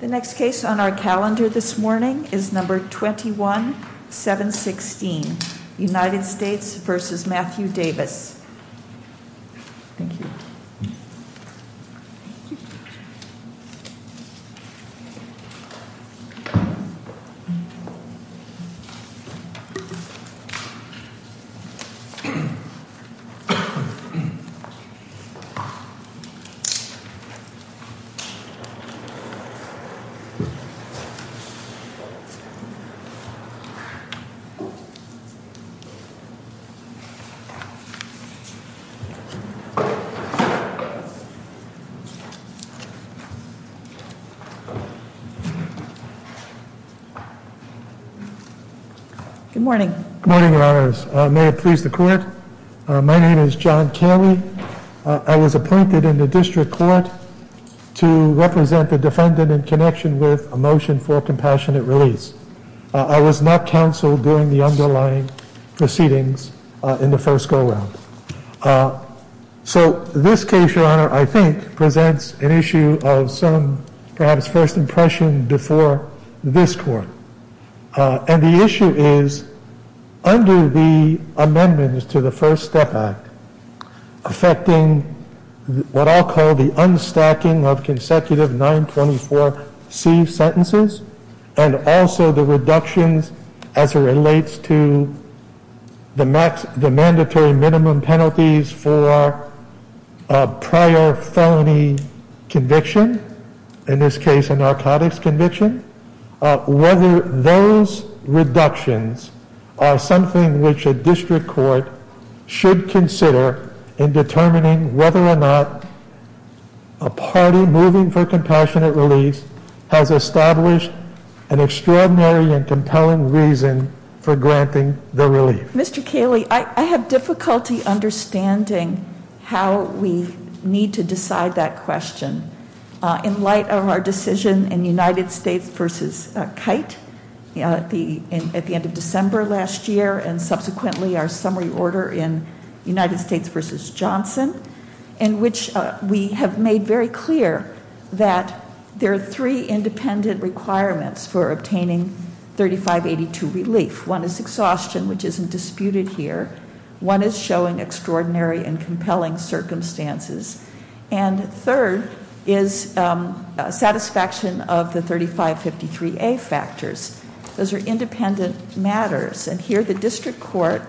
The next case on our calendar this morning is number 21-716, United States v. Matthew Davis. Thank you. Good morning, may it please the court, my name is John Kelly, I was appointed in the motion for compassionate release. I was not counseled during the underlying proceedings in the first go-round. So this case, your honor, I think presents an issue of some perhaps first impression before this court. And the issue is, under the amendments to the First Step Act, affecting what I'll call the unstacking of consecutive 924C sentences and also the reductions as it relates to the mandatory minimum penalties for prior felony conviction, in this case a narcotics conviction, whether those reductions are something which the district court should consider in determining whether or not a party moving for compassionate release has established an extraordinary and compelling reason for granting the relief. Mr. Kelly, I have difficulty understanding how we need to decide that question. In light of our decision in United States v. Kite at the end of December last year and subsequently our summary order in United States v. Johnson, in which we have made very clear that there are three independent requirements for obtaining 3582 relief. One is exhaustion, which isn't of the 3553A factors. Those are independent matters. And here the district court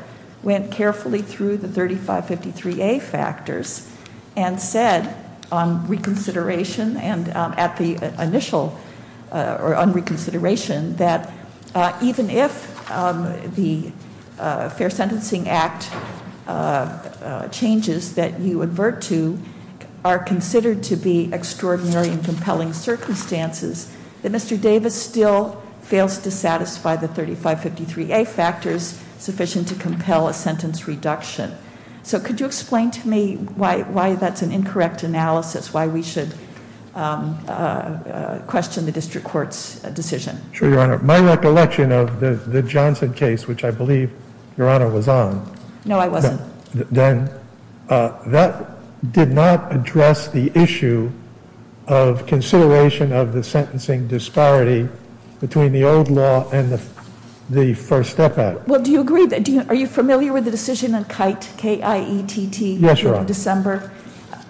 went carefully through the 3553A factors and said on reconsideration and at the initial, or on reconsideration, that even if the Fair Sentencing Act changes that you advert to are considered to be extraordinary and compelling circumstances, that Mr. Davis still fails to satisfy the 3553A factors sufficient to compel a sentence reduction. So could you explain to me why that's an incorrect analysis, why we should question the district court's decision? Sure, Your Honor. My recollection of the Johnson case, which I believe Your Honor, that did not address the issue of consideration of the sentencing disparity between the old law and the First Step Act. Well, do you agree, are you familiar with the decision on Kite, K-I-E-T-T, in December?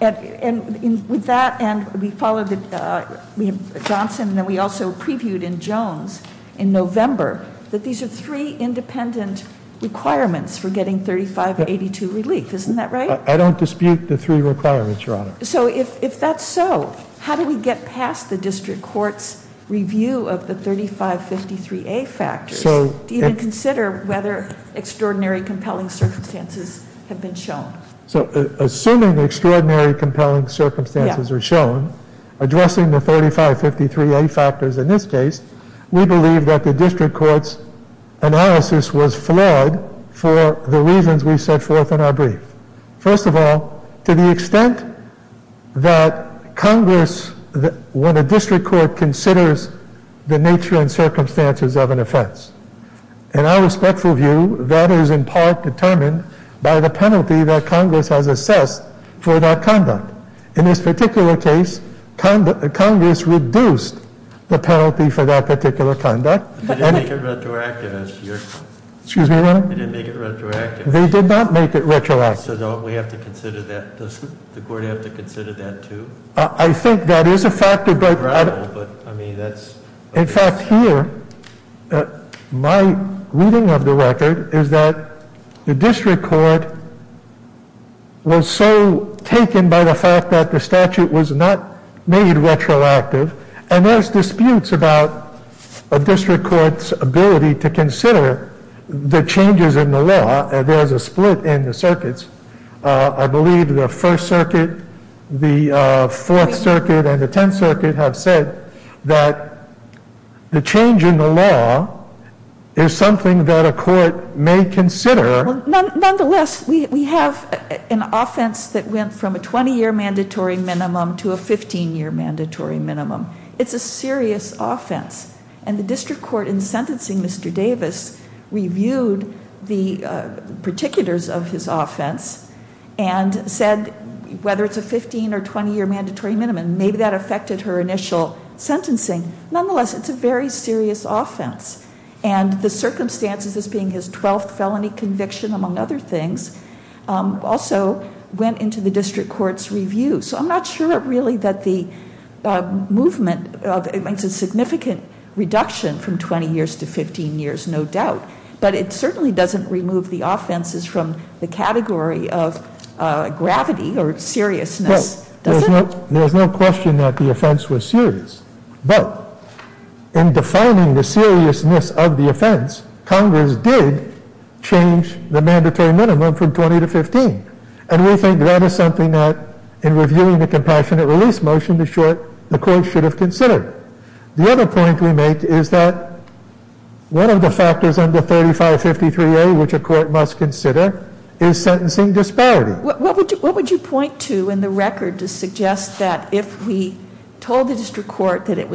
Yes, Your Honor. And with that, and we followed Johnson and then we also previewed in Jones in November, that these are three independent requirements for getting 3582 relief. Isn't that right? I don't dispute the three requirements, Your Honor. So if that's so, how do we get past the district court's review of the 3553A factors? Do you even consider whether extraordinary, compelling circumstances have been shown? So assuming extraordinary, compelling circumstances are shown, addressing the 3553A factors in this case, we believe that the district court's analysis was flawed for the reasons we set forth in our brief. First of all, to the extent that Congress, when a district court considers the nature and circumstances of an offense, in our respectful view, that is in part determined by the penalty that Congress has assessed for that conduct. In this particular case, Congress reduced the penalty for that particular conduct. They didn't make it retroactive, Your Honor. Excuse me, Your Honor? They didn't make it retroactive. They did not make it retroactive. So don't we have to consider that, doesn't the court have to consider that too? I think that is a factor. In fact, here, my reading of the statute was not made retroactive, and there's disputes about a district court's ability to consider the changes in the law. There's a split in the circuits. I believe the First Circuit, the Fourth Circuit, and the Tenth Circuit have said that the change in the law is something that a court may consider. Nonetheless, we have an offense that went from a 20-year mandatory minimum to a 15-year mandatory minimum. It's a serious offense. And the district court, in sentencing Mr. Davis, reviewed the particulars of his offense and said, whether it's a 15- or 20-year mandatory minimum, maybe that affected her initial sentencing. Nonetheless, it's a very serious offense. And the circumstances as being his 12th felony conviction, among other things, also went into the district court's review. So I'm not sure, really, that the movement makes a significant reduction from 20 years to 15 years, no doubt. But it certainly doesn't remove the offenses from the category of gravity or seriousness, does it? Well, there's no question that the offense was serious. But in defining the seriousness of the offense, Congress did change the mandatory minimum from 20 to 15. And we think that is something that, in reviewing the compassionate release motion, the court should have considered. The other point we make is that one of the factors under 3553A, which a court must consider, is sentencing disparity. What would you point to in the record to suggest that if we told the district court that it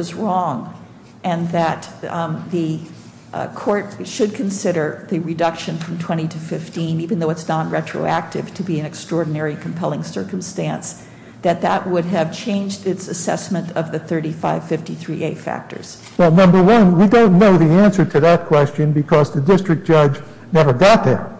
should consider the reduction from 20 to 15, even though it's not retroactive to be an extraordinary compelling circumstance, that that would have changed its assessment of the 3553A factors? Well, number one, we don't know the answer to that question because the district judge never got there.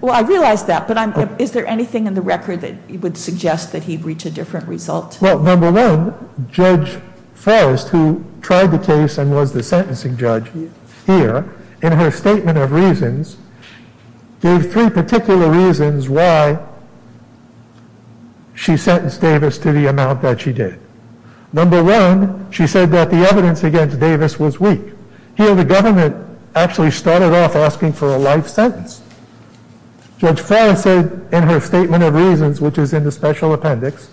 Well, I realize that. But is there anything in the record that would suggest that he'd reach a different result? Well, number one, Judge Forrest, who tried the case and was the sentencing judge here, in her statement of reasons, gave three particular reasons why she sentenced Davis to the amount that she did. Number one, she said that the evidence against Davis was weak. Here, the government actually started off asking for a life sentence. Judge Forrest said in her statement of reasons, which is in the special appendix,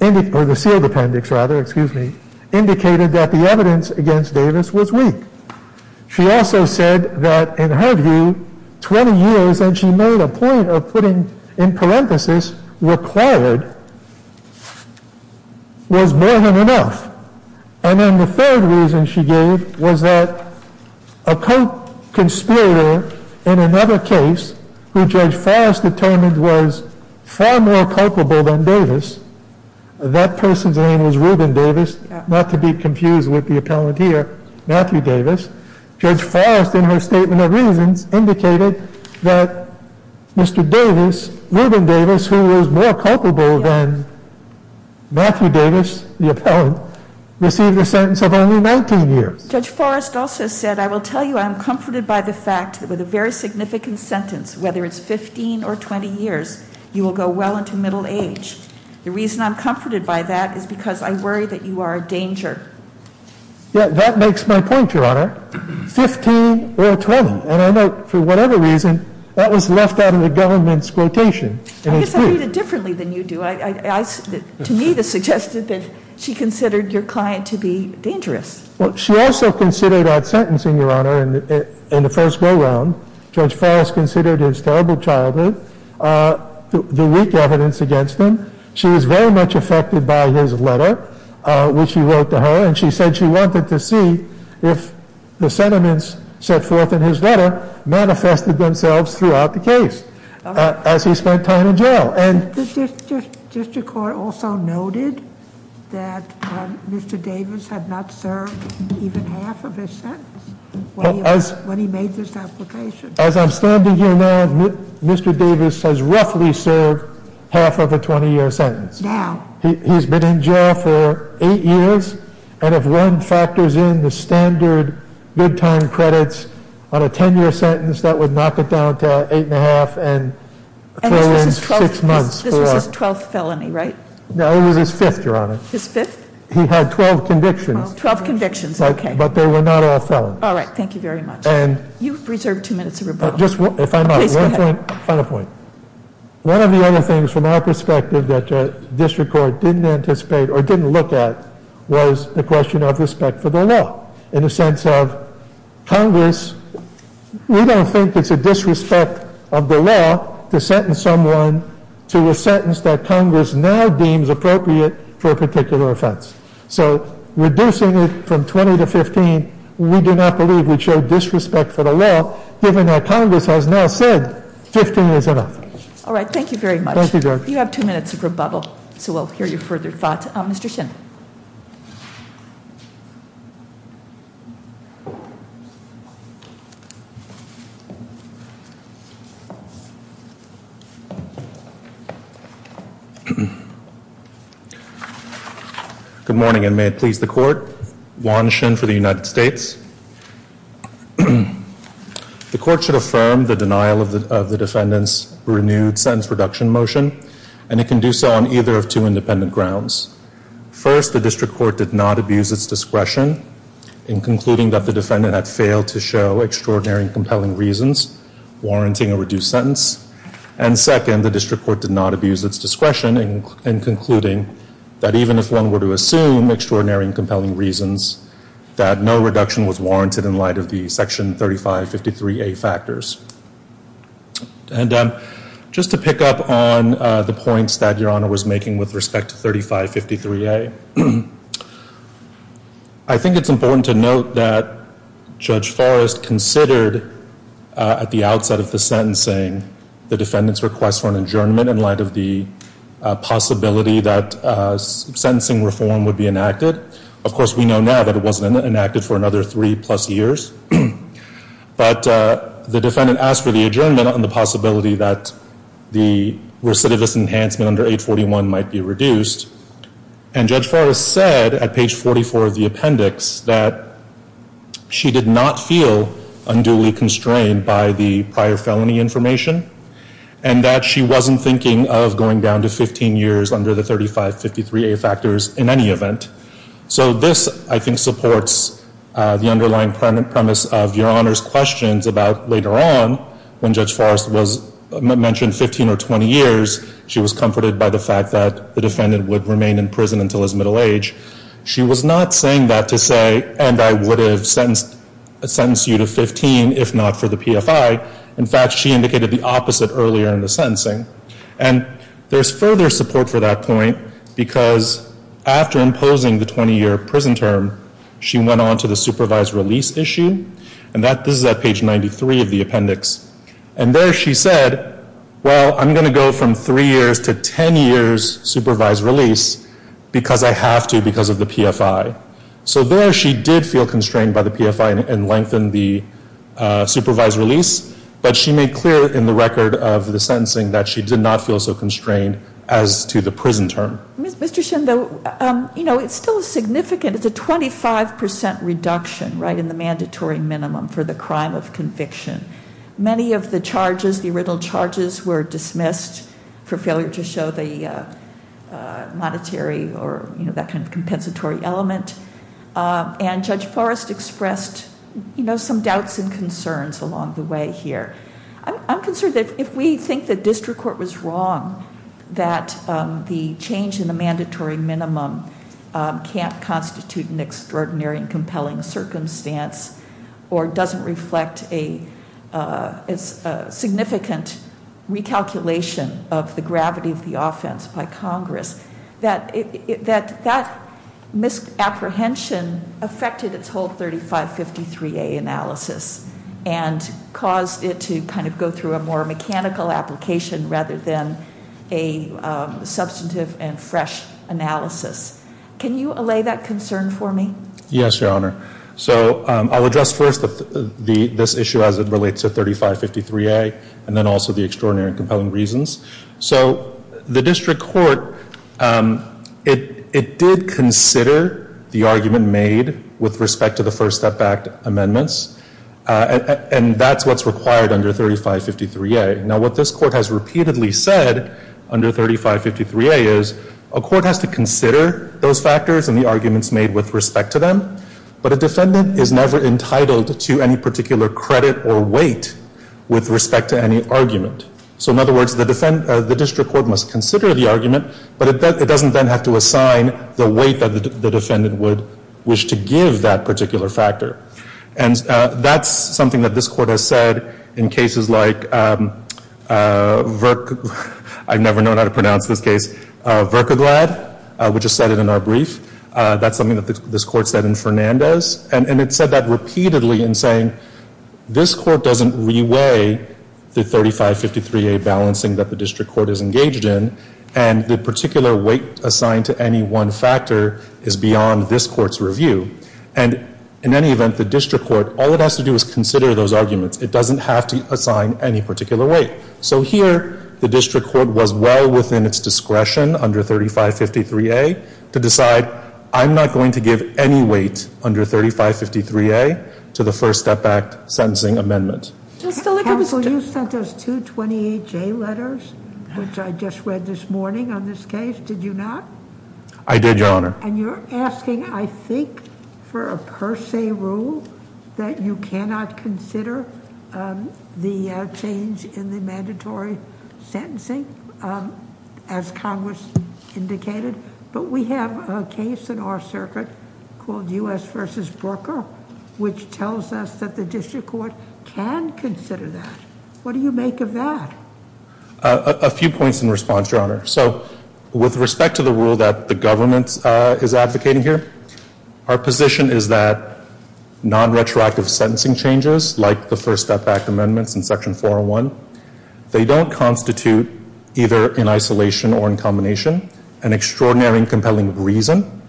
or the sealed appendix, rather, excuse me, indicated that the evidence against Davis was weak. She also said that, in her view, 20 years, and she made a point of putting in parenthesis, required, was more than enough. And then the third reason she gave was that a more culpable than Davis, that person's name was Reuben Davis, not to be confused with the appellant here, Matthew Davis. Judge Forrest, in her statement of reasons, indicated that Mr. Davis, Reuben Davis, who was more culpable than Matthew Davis, the appellant, received a sentence of only 19 years. Judge Forrest also said, I will tell you I'm comforted by the fact that with a very significant sentence, whether it's 15 or 20 years, you will go well into middle age. The reason I'm comforted by that is because I worry that you are a danger. Yeah, that makes my point, Your Honor. 15 or 20. And I know, for whatever reason, that was left out of the government's quotation. I guess I read it differently than you do. To me, this suggested that she considered your client to be dangerous. Well, she also considered that his terrible childhood, the weak evidence against him. She was very much affected by his letter, which he wrote to her, and she said she wanted to see if the sentiments set forth in his letter manifested themselves throughout the case as he spent time in jail. The district court also noted that Mr. Davis had not served even half of his sentence when he made this application. As I'm standing here now, Mr. Davis has roughly served half of a 20-year sentence. Now. He's been in jail for eight years and if one factors in the standard good time credits on a 10-year sentence, that would knock it down to eight and a half and throw in six months. This was his twelfth felony, right? No, it was his fifth, Your Honor. His fifth? He had twelve convictions. Twelve convictions, okay. But they were not all felons. All right, thank you very much. You've reserved two minutes of rebuttal. One final point. One of the other things from our perspective that the district court didn't anticipate or didn't look at was the question of respect for the law in the sense of in Congress, we don't think it's a disrespect of the law to sentence someone to a sentence that Congress now deems appropriate for a particular offense. So reducing it from 20 to 15, we do not believe would show disrespect for the law given that Congress has now said 15 is enough. All right, thank you very much. You have two minutes of rebuttal, so we'll hear your further thoughts. Mr. Shin. Good morning, and may it please the court. Juan Shin for the United States. The court should affirm the denial of the defendant's renewed sentence reduction motion, and it can do so on either of two independent grounds. First, the district court did not abuse its discretion in concluding that the defendant had failed to show extraordinary and compelling reasons warranting a reduced sentence. And second, the district court did not abuse its discretion in concluding that even if one were to assume extraordinary and compelling reasons, that no reduction was warranted in light of the Section 3553A factors. And just to pick up on the points that Your Honor was making with respect to 3553A, I think it's important to note that Judge Forrest considered at the outset of the sentencing the defendant's request for an adjournment in light of the possibility that sentencing reform would be enacted. Of course, we know now that it wasn't enacted for another three-plus years. But the defendant asked for the adjournment on the possibility that the recidivist enhancement under 841 might be reduced, and Judge Forrest said at page 44 of the appendix that she did not feel unduly constrained by the prior felony information, and that she wasn't thinking of going down to 15 years under the 3553A factors in any event. So this, I think, supports the underlying premise of Your Honor's questions about later on when Judge Forrest was mentioned 15 or 20 years, she was comforted by the fact that the defendant would remain in prison until his middle age. She was not saying that to say, and I would have sentenced you to 15 if not for the PFI. In fact, she indicated the opposite earlier in the sentencing. And there's further support for that point because after imposing the 20-year prison term, she went on to the supervised release issue, and this is at page 93 of the appendix. And there she said, well, I'm going to go from three years to 15, and she did feel constrained by the PFI and lengthened the supervised release. But she made clear in the record of the sentencing that she did not feel so constrained as to the prison term. Mr. Shin, it's still a significant, it's a 25% reduction in the mandatory minimum for the crime of conviction. Many of the charges, the original charges, were dismissed for failure to show the monetary or that kind of compensatory element. And Judge Forrest expressed some doubts and concerns along the way here. I'm concerned that if we think the district court was wrong, that the change in the mandatory minimum can't constitute an extraordinary and compelling circumstance or doesn't reflect a significant recalculation of the gravity of the offense by Congress, that misapprehension affected its whole 3553A analysis and caused it to kind of go through a more mechanical application rather than a substantive and I'll address first this issue as it relates to 3553A and then also the extraordinary and compelling reasons. So the district court, it did consider the argument made with respect to the First Step Act amendments, and that's what's required under 3553A. Now what this court has repeatedly said under 3553A is a court has to consider those factors and the arguments made with respect to them, but a defendant is never entitled to any particular credit or weight with respect to any argument. So in other words, the district court must consider the argument, but it doesn't then have to assign the weight that the defendant would wish to give that particular factor. And that's something that this court has said in cases like, I've never known how to pronounce this case, Verkaglad. We just said it in our brief. That's something that this court said in Fernandez. And it said that repeatedly in saying, this court doesn't re-weigh the 3553A balancing that the district court is engaged in, and the particular weight assigned to any one factor is beyond this court's review. And in any event, the district court, all it has to do is consider those arguments. It doesn't have to assign any particular weight. So here the district court was well within its discretion under 3553A to decide, I'm not going to give any weight under 3553A to the First Step Act sentencing amendment. Counsel, you sent us two 28J letters, which I just read this morning on this case. Did you not? I did, Your Honor. And you're asking, I think, for a per se rule that you cannot consider the change in the mandatory sentencing, as Congress indicated. But we have a case in our circuit called U.S. v. Brooker, which tells us that the district court can consider that. What do you make of that? A few points in response, Your Honor. So with respect to the rule that the government is advocating here, our position is that non-retroactive sentencing changes, like the First Step Act amendments in Section 401, they don't constitute either in isolation or in combination an extraordinary and compelling reason.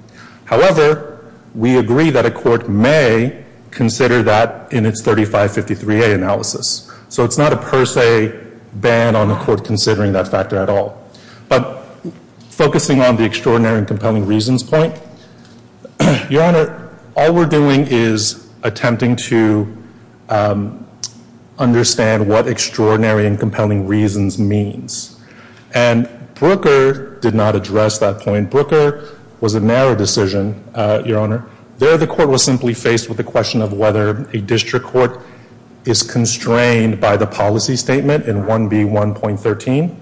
However, we agree that a court may consider that in its 3553A analysis. So it's not a per se ban on the court considering that factor at all. But focusing on the extraordinary and compelling reasons point, Your Honor, all we're doing is attempting to address that point. Brooker was a narrow decision, Your Honor. There the court was simply faced with the question of whether a district court is constrained by the policy statement in 1B1.13.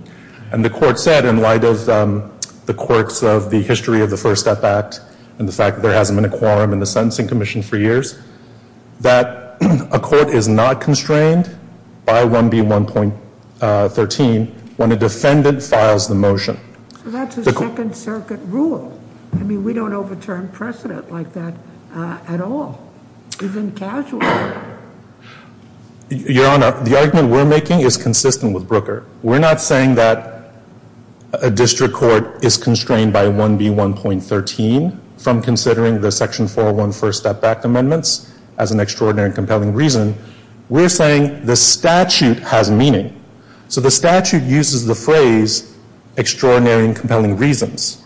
And the court said, in light of the quirks of the history of the First Step Act and the fact that there hasn't been a quorum in the Sentencing Commission for years, that a court is not constrained by 1B1.13 when a defendant files the motion. So that's a Second Circuit rule. I mean, we don't overturn precedent like that at all. Even casually. Your Honor, the argument we're making is consistent with Brooker. We're not saying that a district court is constrained by 1B1.13 from considering the Section 401 First Step Act amendments as an extraordinary and compelling reason. We're saying the statute has meaning. So the statute uses the phrase extraordinary and compelling reasons.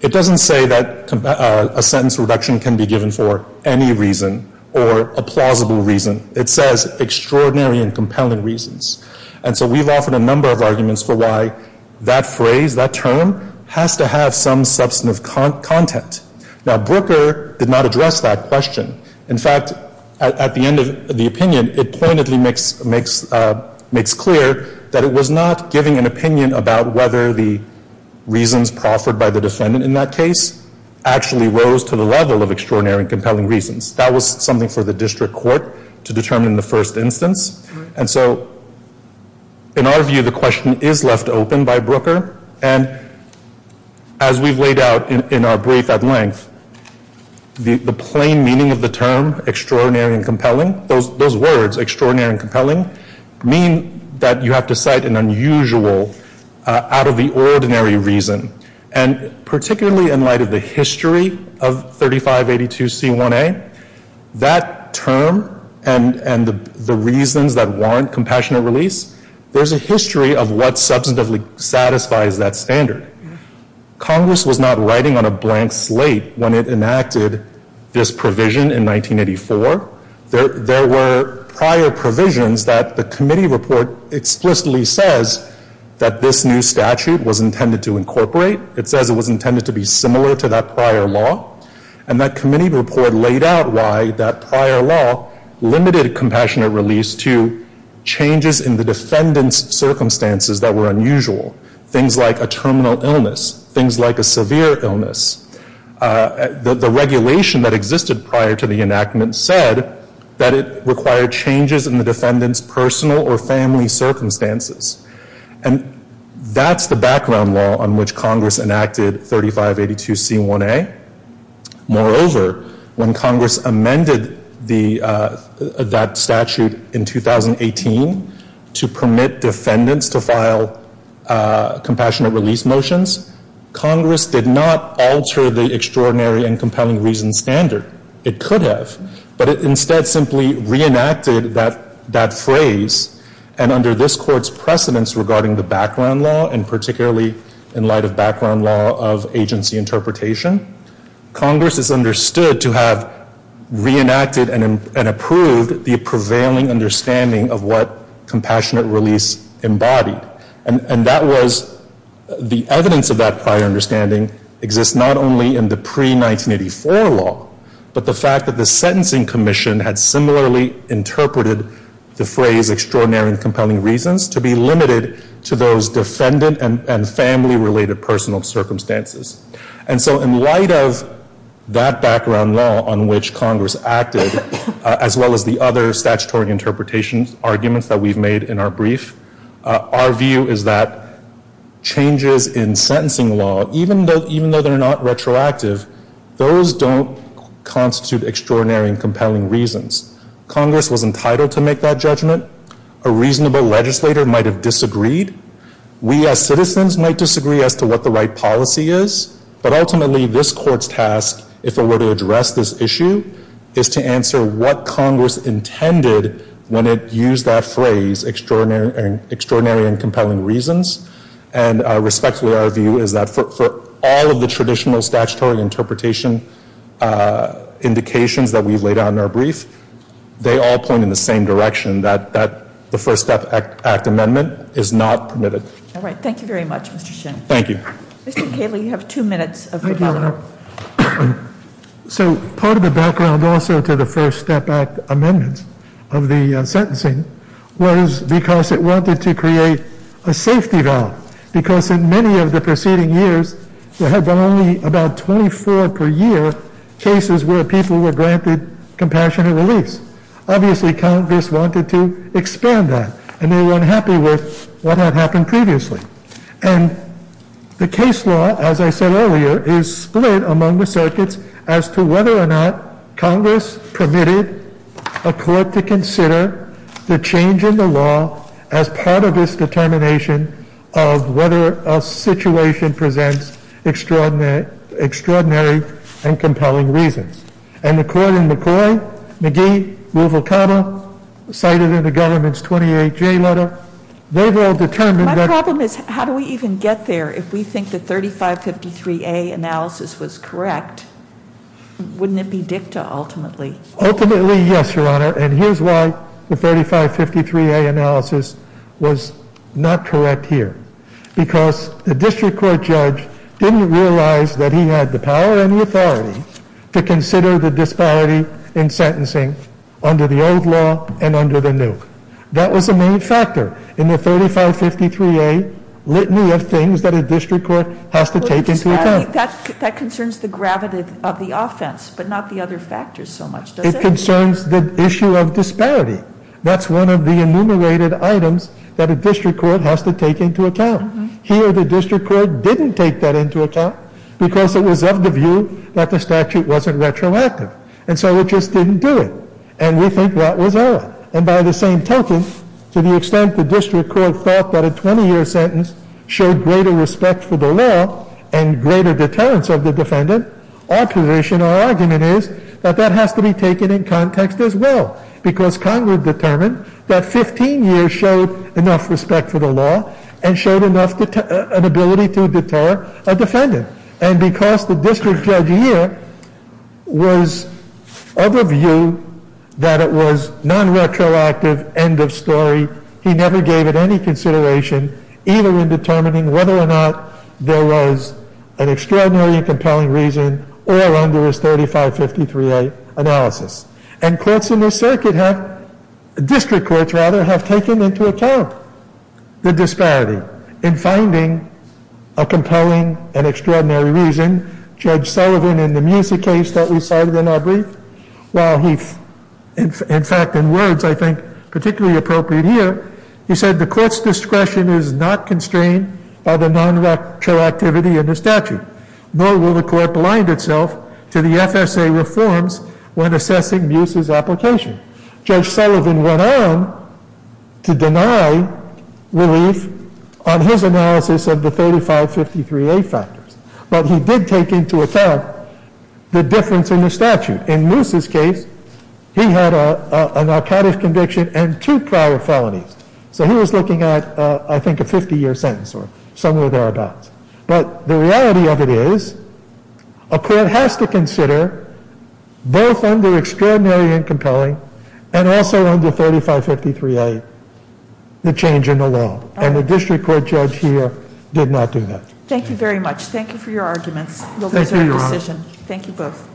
It doesn't say that a sentence reduction can be given for any reason or a plausible reason. It says extraordinary and compelling reasons. And so we've offered a number of arguments for why that phrase, that term, has to have some substantive content. Now, Brooker did not address that question. In fact, at the end of the opinion, it pointedly makes clear that it was not giving an opinion about whether the reasons proffered by the defendant in that case actually rose to the level of extraordinary and compelling reasons. That was something for the district court to determine in the first instance. And so in our view, the question is left open by Brooker. And as we've laid out in our brief at length, the plain meaning of the term extraordinary and compelling, those words, extraordinary and compelling, mean that you have to cite an unusual out of the ordinary reason. And particularly in light of the history of 3582C1A, that term and the reasons that warrant compassionate release, there's a history of what substantively satisfies that standard. Congress was not writing on a blank slate when it enacted this provision in 1984. There were prior provisions that the committee report explicitly says that this new statute was intended to incorporate. It says it was intended to be similar to that prior law. And that committee report laid out why that prior law limited compassionate release to changes in the defendant's circumstances that were unusual, things like a terminal illness, things like a severe illness. The regulation that existed prior to the enactment said that it required changes in the defendant's personal or family circumstances. And that's the background law on which Congress enacted 3582C1A. Moreover, when Congress amended that statute in 2018 to permit defendants to file compassionate release motions, Congress did not alter the extraordinary and compelling reason standard. It could have. But it instead simply reenacted that phrase. And under this Court's precedence regarding the background law, and particularly in light of background law of agency interpretation, Congress is understood to have reenacted and approved the prevailing understanding of what compassionate release embodied. And that was, the evidence of that prior understanding exists not only in the pre-1984 law, but the fact that the Sentencing Commission had similarly interpreted the phrase extraordinary and compelling reasons to be limited to those defendant and family-related personal circumstances. And so in light of that background law on which Congress acted, as well as the other statutory interpretation arguments that we've made in our brief, our view is that changes in sentencing law, even though they're not retroactive, those don't constitute extraordinary and compelling reasons. Congress was entitled to make that judgment. A reasonable legislator might have disagreed. We as citizens might disagree as to what the right policy is. But ultimately, this Court's task, if it were to address this issue, is to answer what Congress intended when it used that phrase, extraordinary and compelling reasons. And respectfully, our view is that for all of the traditional statutory interpretation indications that we've laid out in our brief, they all point in the same direction, that the First Step Act amendment is not permitted. So part of the background also to the First Step Act amendment of the sentencing was because it wanted to create a safety valve. Because in many of the preceding years, there had been only about 24 per year cases where people were granted compassionate release. Obviously, Congress wanted to expand that, and they were unhappy with what had happened previously. And the case law, as I said earlier, is split among the circuits as to whether or not Congress permitted a Court to consider the change in the law as part of its determination of whether a situation presents extraordinary and compelling reasons. And the Court in McCoy, McGee, Ruvalcaba, cited in the government's 28J letter, they've all determined that... Ultimately, yes, Your Honor. And here's why the 3553A analysis was not correct here. Because the district court judge didn't realize that he had the power and the authority to consider the disparity in sentencing under the old law and under the new. That was a main factor in the 3553A litany of things that a district court has to take into account. That concerns the gravity of the offense, but not the other factors so much, does it? It concerns the issue of disparity. That's one of the enumerated items that a district court has to take into account. Here, the district court didn't take that into account because it was of the view that the statute wasn't retroactive. And so it just didn't do it. And we think that was all. And by the same token, to the extent the district court thought that a 20-year sentence showed greater respect for the law and greater deterrence of the defendant, our position, our argument is that that has to be taken in context as well. Because Congress determined that 15 years showed enough respect for the law and showed enough ability to deter a defendant. And because the district judge here was of a view that it was non-retroactive, end of story, he never gave it any consideration, either in determining whether or not there was an extraordinarily compelling reason or under his 3553A analysis. And courts in this circuit have, district courts rather, have taken into account the disparity in finding a compelling and extraordinary reason. Judge Sullivan, in the Musa case that we cited in our brief, while he, in fact, in words I think particularly appropriate here, he said the court's discretion is not constrained by the non-retroactivity of the statute, nor will the court blind itself to the FSA reforms when assessing Musa's application. Judge Sullivan went on to deny relief on his analysis of the 3553A factors, but he did take into account the difference in the statute. In Musa's case, he had a narcotic conviction and two prior felonies. So he was looking at, I think, a 50-year sentence or somewhere thereabouts. But the reality of it is a court has to consider, both under extraordinary and compelling, and also under 3553A, the change in the law. And the district court judge here did not do that. Thank you very much. Thank you for your arguments. We'll reserve the decision. Thank you both.